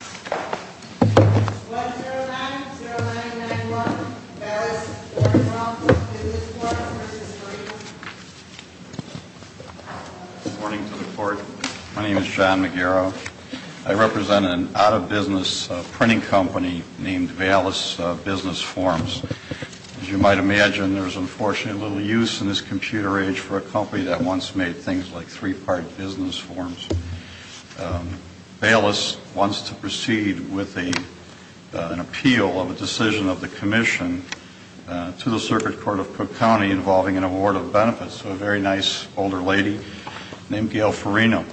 1-09-0991 Baylis Wyngroff Business Forms, Inc. Good morning to the Court. My name is John McGarrow. I represent an out-of-business printing company named Baylis Business Forms. As you might imagine, there is unfortunately little use in this computer age for a company that once made things like three-part business forms. Baylis wants to proceed with an appeal of a decision of the Commission to the Circuit Court of Cook County involving an award of benefits. So a very nice older lady named Gail Farina.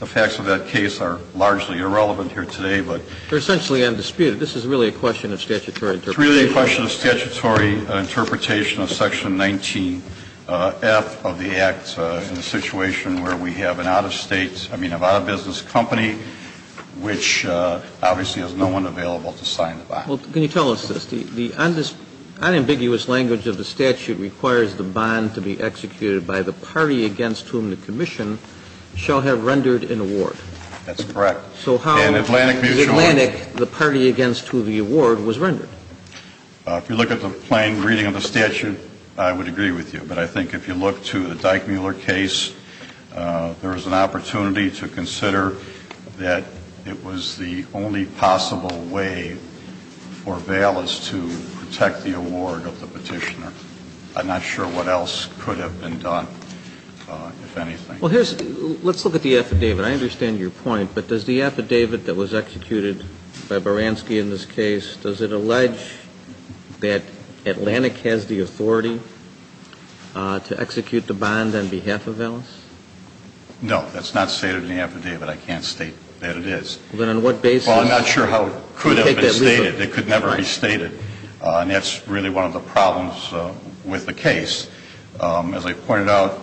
The facts of that case are largely irrelevant here today, but they're essentially undisputed. This is really a question of statutory interpretation. It's really a question of statutory interpretation of Section 19F of the Act in a situation where we have an out-of-state, I mean, an out-of-business company which obviously has no one available to sign the bond. Well, can you tell us this? The unambiguous language of the statute requires the bond to be executed by the party against whom the Commission shall have rendered an award. That's correct. So how in Atlantic Mutual the party against whom the award was rendered? If you look at the plain reading of the statute, I would agree with you. But I think if you look to the Dyke-Mueller case, there is an opportunity to consider that it was the only possible way for Baylis to protect the award of the Petitioner. I'm not sure what else could have been done, if anything. Well, let's look at the affidavit. I understand your point. But does the affidavit that was executed by Baranski in this case, does it allege that Atlantic has the authority to execute the bond on behalf of Baylis? No. That's not stated in the affidavit. I can't state that it is. Then on what basis? Well, I'm not sure how it could have been stated. It could never be stated. And that's really one of the problems with the case. As I pointed out,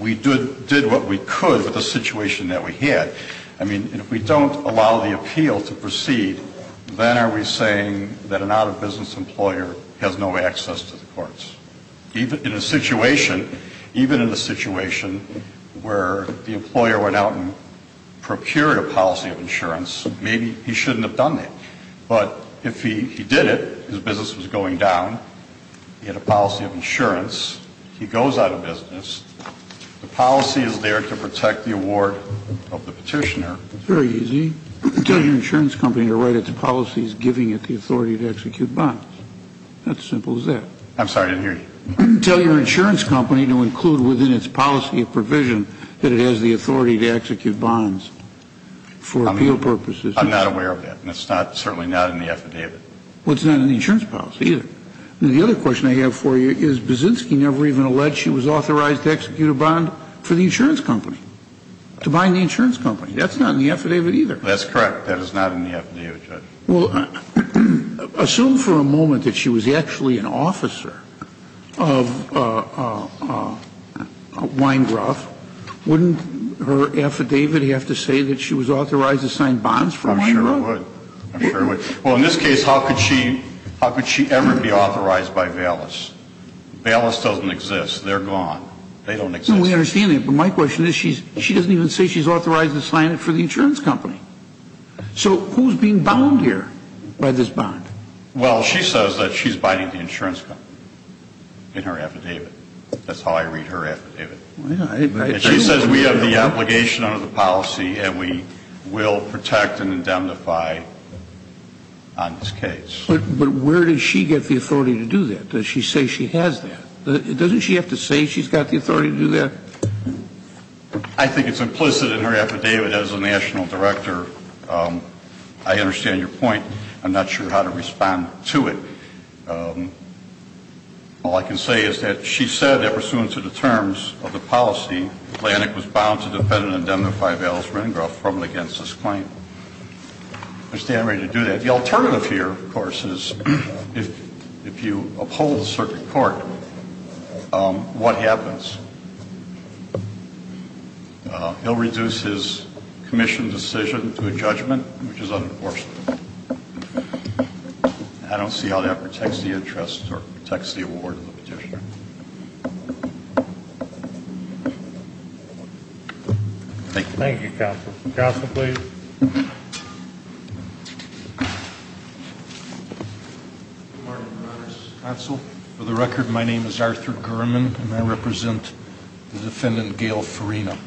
we did what we could with the situation that we had. I mean, if we don't allow the appeal to proceed, then are we saying that an out-of-business employer has no access to the courts? In a situation, even in a situation where the employer went out and procured a policy of insurance, maybe he shouldn't have done that. But if he did it, his business was going down. He had a policy of insurance. He goes out of business. The policy is there to protect the award of the petitioner. Very easy. Tell your insurance company to write its policies giving it the authority to execute bonds. That simple as that. I'm sorry, I didn't hear you. Tell your insurance company to include within its policy of provision that it has the authority to execute bonds for appeal purposes. I'm not aware of that. And it's certainly not in the affidavit. Well, it's not in the insurance policy either. The other question I have for you is Baczynski never even alleged she was authorized to execute a bond for the insurance company, to bind the insurance company. That's not in the affidavit either. That's correct. That is not in the affidavit, Judge. Well, assume for a moment that she was actually an officer of Weingraf. Wouldn't her affidavit have to say that she was authorized to sign bonds for Weingraf? I'm sure it would. I'm sure it would. Well, in this case, how could she ever be authorized by Valis? Valis doesn't exist. They're gone. They don't exist. No, we understand that. But my question is she doesn't even say she's authorized to sign it for the insurance company. So who's being bound here by this bond? Well, she says that she's binding the insurance company in her affidavit. That's how I read her affidavit. She says we have the obligation under the policy and we will protect and indemnify on this case. But where does she get the authority to do that? Does she say she has that? Doesn't she have to say she's got the authority to do that? I think it's implicit in her affidavit as a national director. I understand your point. I'm not sure how to respond to it. All I can say is that she said that pursuant to the terms of the policy, Atlantic was bound to defend and indemnify Valis Rindgroff from and against this claim. I stand ready to do that. The alternative here, of course, is if you uphold the circuit court, what happens? He'll reduce his commission decision to a judgment, which is unenforceable. I don't see how that protects the interest or protects the award of the petitioner. Thank you. Thank you, counsel. Counsel, please. Good morning, Your Honors. Counsel, for the record, my name is Arthur Gurman, and I represent the defendant, Gail Farina.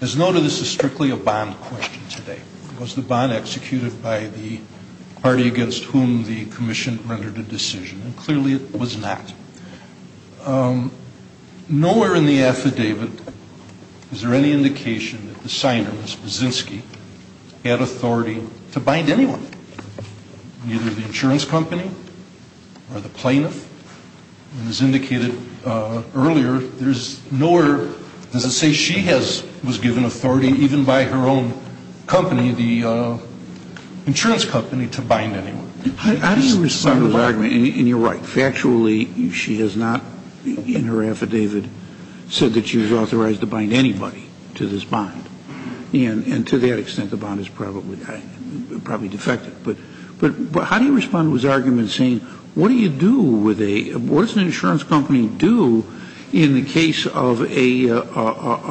As noted, this is strictly a bond question today. Was the bond executed by the party against whom the commission rendered a decision? And clearly it was not. Nowhere in the affidavit is there any indication that the signer, Ms. Baczynski, had authority to bind anyone, neither the insurance company or the plaintiff. As indicated earlier, there's nowhere does it say she was given authority even by her own company, the insurance company, to bind anyone. How do you respond to the argument? And you're right. Factually, she has not, in her affidavit, said that she was authorized to bind anybody to this bond. And to that extent, the bond is probably defective. But how do you respond to his argument saying, what do you do with a, what does an insurance company do in the case of a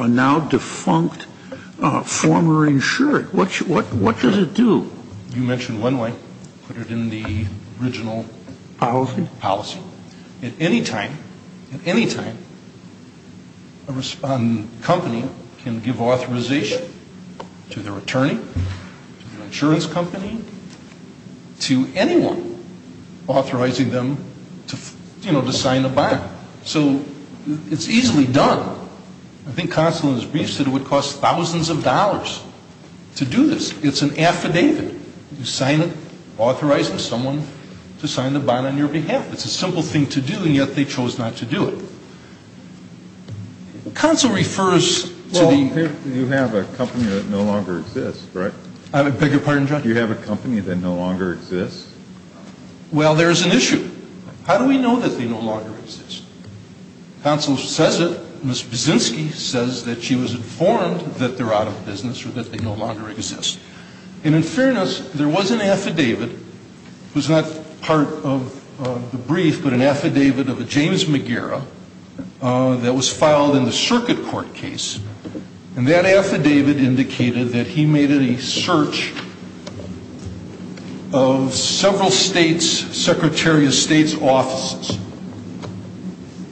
now defunct former insured? What does it do? You mentioned one way. Put it in the original policy. At any time, at any time, a company can give authorization to their attorney, to their insurance company, to anyone authorizing them to, you know, to sign a bond. So it's easily done. I think Consul in his brief said it would cost thousands of dollars to do this. It's an affidavit. You sign it authorizing someone to sign the bond on your behalf. It's a simple thing to do, and yet they chose not to do it. Consul refers to the — Well, you have a company that no longer exists, right? I beg your pardon, Judge? You have a company that no longer exists? Well, there's an issue. How do we know that they no longer exist? Consul says it. Ms. Buszynski says that she was informed that they're out of business or that they no longer exist. And in fairness, there was an affidavit. It was not part of the brief, but an affidavit of a James Magira that was filed in the circuit court case. And that affidavit indicated that he made a search of several states, Secretary of State's offices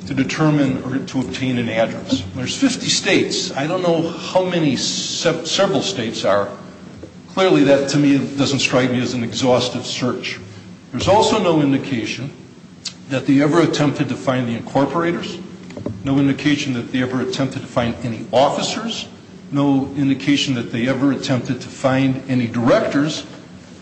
to determine or to obtain an address. There's 50 states. I don't know how many several states are. Clearly, that to me doesn't strike me as an exhaustive search. There's also no indication that they ever attempted to find the incorporators, no indication that they ever attempted to find any officers, no indication that they ever attempted to find any directors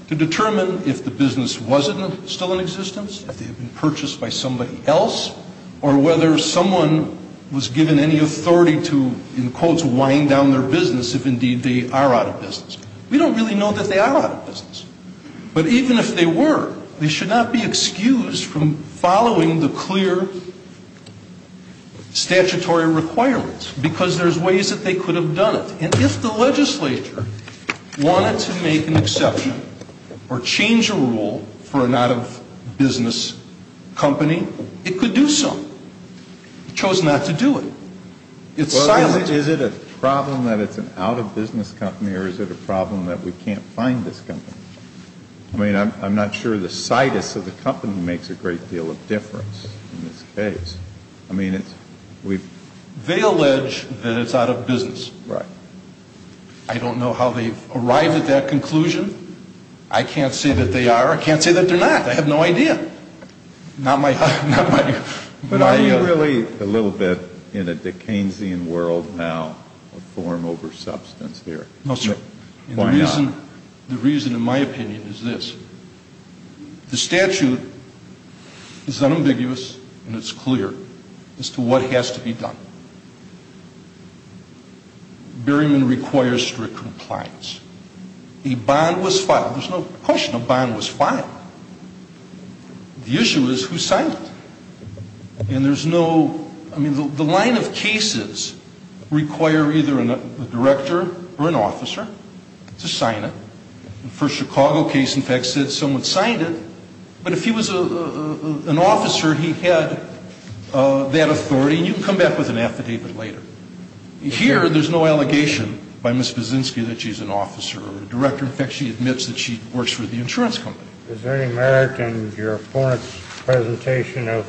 to determine if the business was still in existence, if they had been purchased by somebody else, or whether someone was given any authority to, in quotes, wind down their business if indeed they are out of business. We don't really know that they are out of business. But even if they were, they should not be excused from following the clear statutory requirements because there's ways that they could have done it. And if the legislature wanted to make an exception or change a rule for an out-of-business company, it could do so. It chose not to do it. It's silent. Well, is it a problem that it's an out-of-business company or is it a problem that we can't find this company? I mean, I'm not sure the situs of the company makes a great deal of difference in this case. I mean, it's we've... They allege that it's out-of-business. Right. I don't know how they've arrived at that conclusion. I can't say that they are. I can't say that they're not. I have no idea. Not my... But are you really a little bit in a Dick Keynesian world now, a form over substance here? No, sir. Why not? The reason, in my opinion, is this. The statute is unambiguous and it's clear as to what has to be done. Berryman requires strict compliance. A bond was filed. There's no question a bond was filed. The issue is who signed it. And there's no... I mean, the line of cases require either a director or an officer to sign it. The first Chicago case, in fact, said someone signed it. But if he was an officer, he had that authority. And you can come back with an affidavit later. Here, there's no allegation by Ms. Bozinski that she's an officer or a director. In fact, she admits that she works for the insurance company. Is there any merit in your opponent's presentation of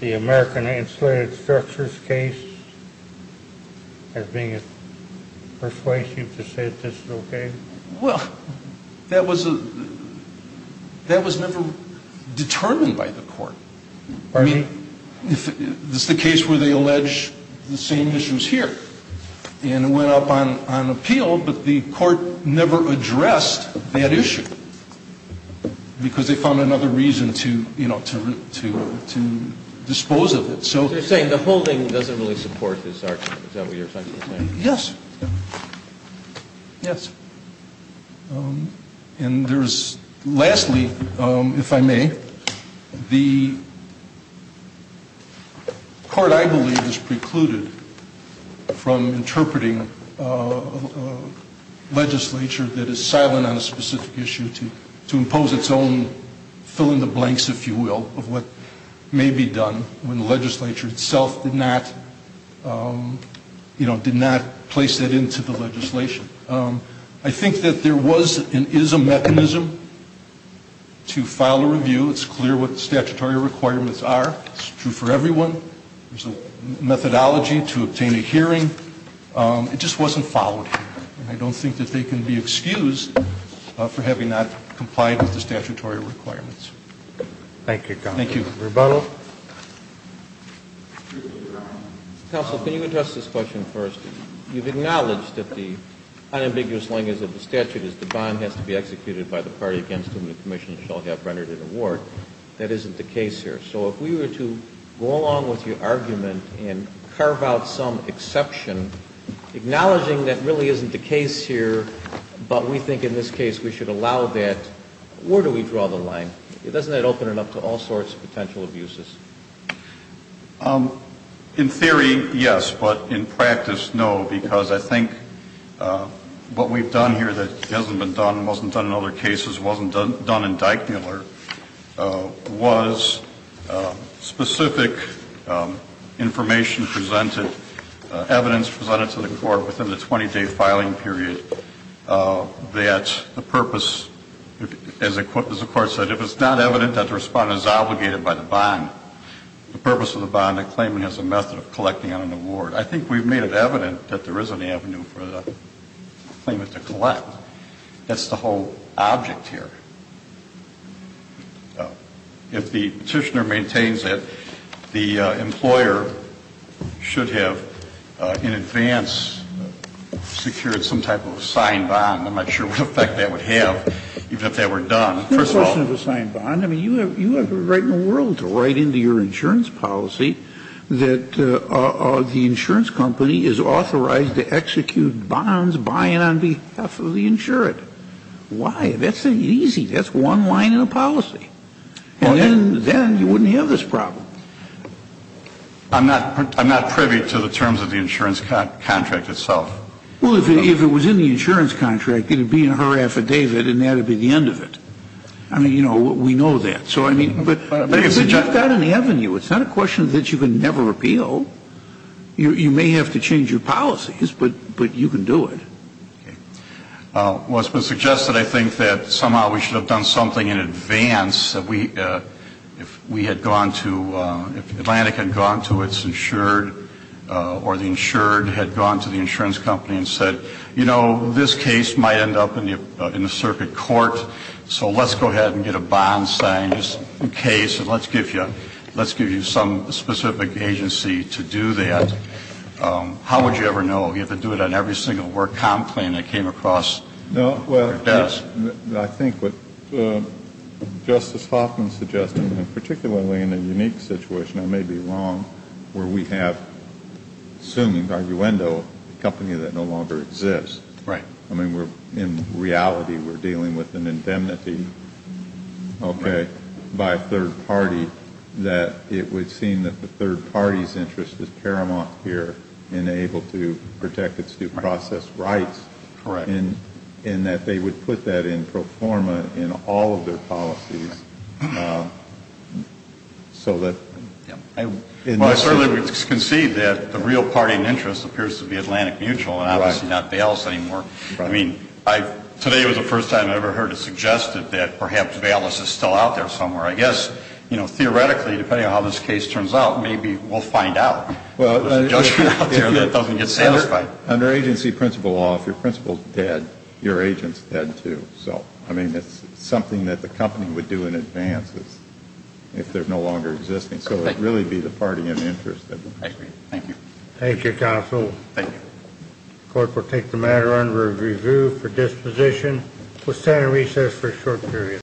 the American Insulated Structures case as being persuasive to say that this is okay? Well, that was never determined by the court. Pardon me? This is the case where they allege the same issues here. And it went up on appeal, but the court never addressed that issue because they found another reason to dispose of it. So you're saying the holding doesn't really support this argument. Is that what you're trying to say? Yes. Yes. And lastly, if I may, the court, I believe, is precluded from interpreting legislature that is silent on a specific issue to impose its own fill-in-the-blanks, if you will, of what may be done when the legislature itself did not place that into the legislation. I think that there was and is a mechanism to file a review. It's clear what the statutory requirements are. It's true for everyone. There's a methodology to obtain a hearing. It just wasn't followed here. And I don't think that they can be excused for having not complied with the statutory requirements. Thank you, counsel. Thank you. Rebono? Counsel, can you address this question first? You've acknowledged that the unambiguous language of the statute is the bond has to be executed by the party against whom the commission shall have rendered an award. That isn't the case here. So if we were to go along with your argument and carve out some exception, acknowledging that really isn't the case here but we think in this case we should allow that, where do we draw the line? Doesn't that open it up to all sorts of potential abuses? In theory, yes, but in practice, no, because I think what we've done here that hasn't been done, wasn't done in other cases, wasn't done in Dyckmiller was specific information presented, evidence presented to the court within the 20-day filing period that the purpose, as the court said, if it's not evident that the respondent is obligated by the bond, the purpose of the bond claiming is a method of collecting on an award. I think we've made it evident that there is an avenue for the claimant to collect. That's the whole object here. If the petitioner maintains that the employer should have in advance secured some type of signed bond, I'm not sure what effect that would have, even if that were done. First of all you have the right in the world to write into your insurance policy that the insurance company is authorized to execute bonds buying on behalf of the insured. Why? That's easy. That's one line in a policy. And then you wouldn't have this problem. I'm not privy to the terms of the insurance contract itself. Well, if it was in the insurance contract, it would be in her affidavit and that would be the end of it. I mean, you know, we know that. But you've got an avenue. It's not a question that you can never repeal. You may have to change your policies, but you can do it. Well, it's been suggested I think that somehow we should have done something in advance. If we had gone to, if Atlantic had gone to its insured or the insured had gone to the insurance company and said, you know, this case might end up in the circuit court, so let's go ahead and get a bond signed just in case and let's give you some specific agency to do that, how would you ever know? You have to do it on every single work comp claim that came across your desk. Well, I think what Justice Hoffman suggested, and particularly in a unique situation, I may be wrong, where we have, assuming arguendo, a company that no longer exists. Right. I mean, in reality we're dealing with an indemnity, okay, by a third party, that it would seem that the third party's interest is paramount here in able to protect its due process rights. Correct. And that they would put that in pro forma in all of their policies. Well, I certainly would concede that the real party in interest appears to be Atlantic Mutual, and obviously not Bayless anymore. I mean, today was the first time I ever heard it suggested that perhaps Bayless is still out there somewhere. I guess, you know, theoretically, depending on how this case turns out, maybe we'll find out. There's a judgment out there that doesn't get satisfied. Under agency principle law, if your principle's dead, your agent's dead, too. So, I mean, it's something that the company would do in advance if they're no longer existing. So it would really be the party in interest. I agree. Thank you. Thank you, counsel. Thank you. The court will take the matter under review for disposition. We'll stand on recess for a short period.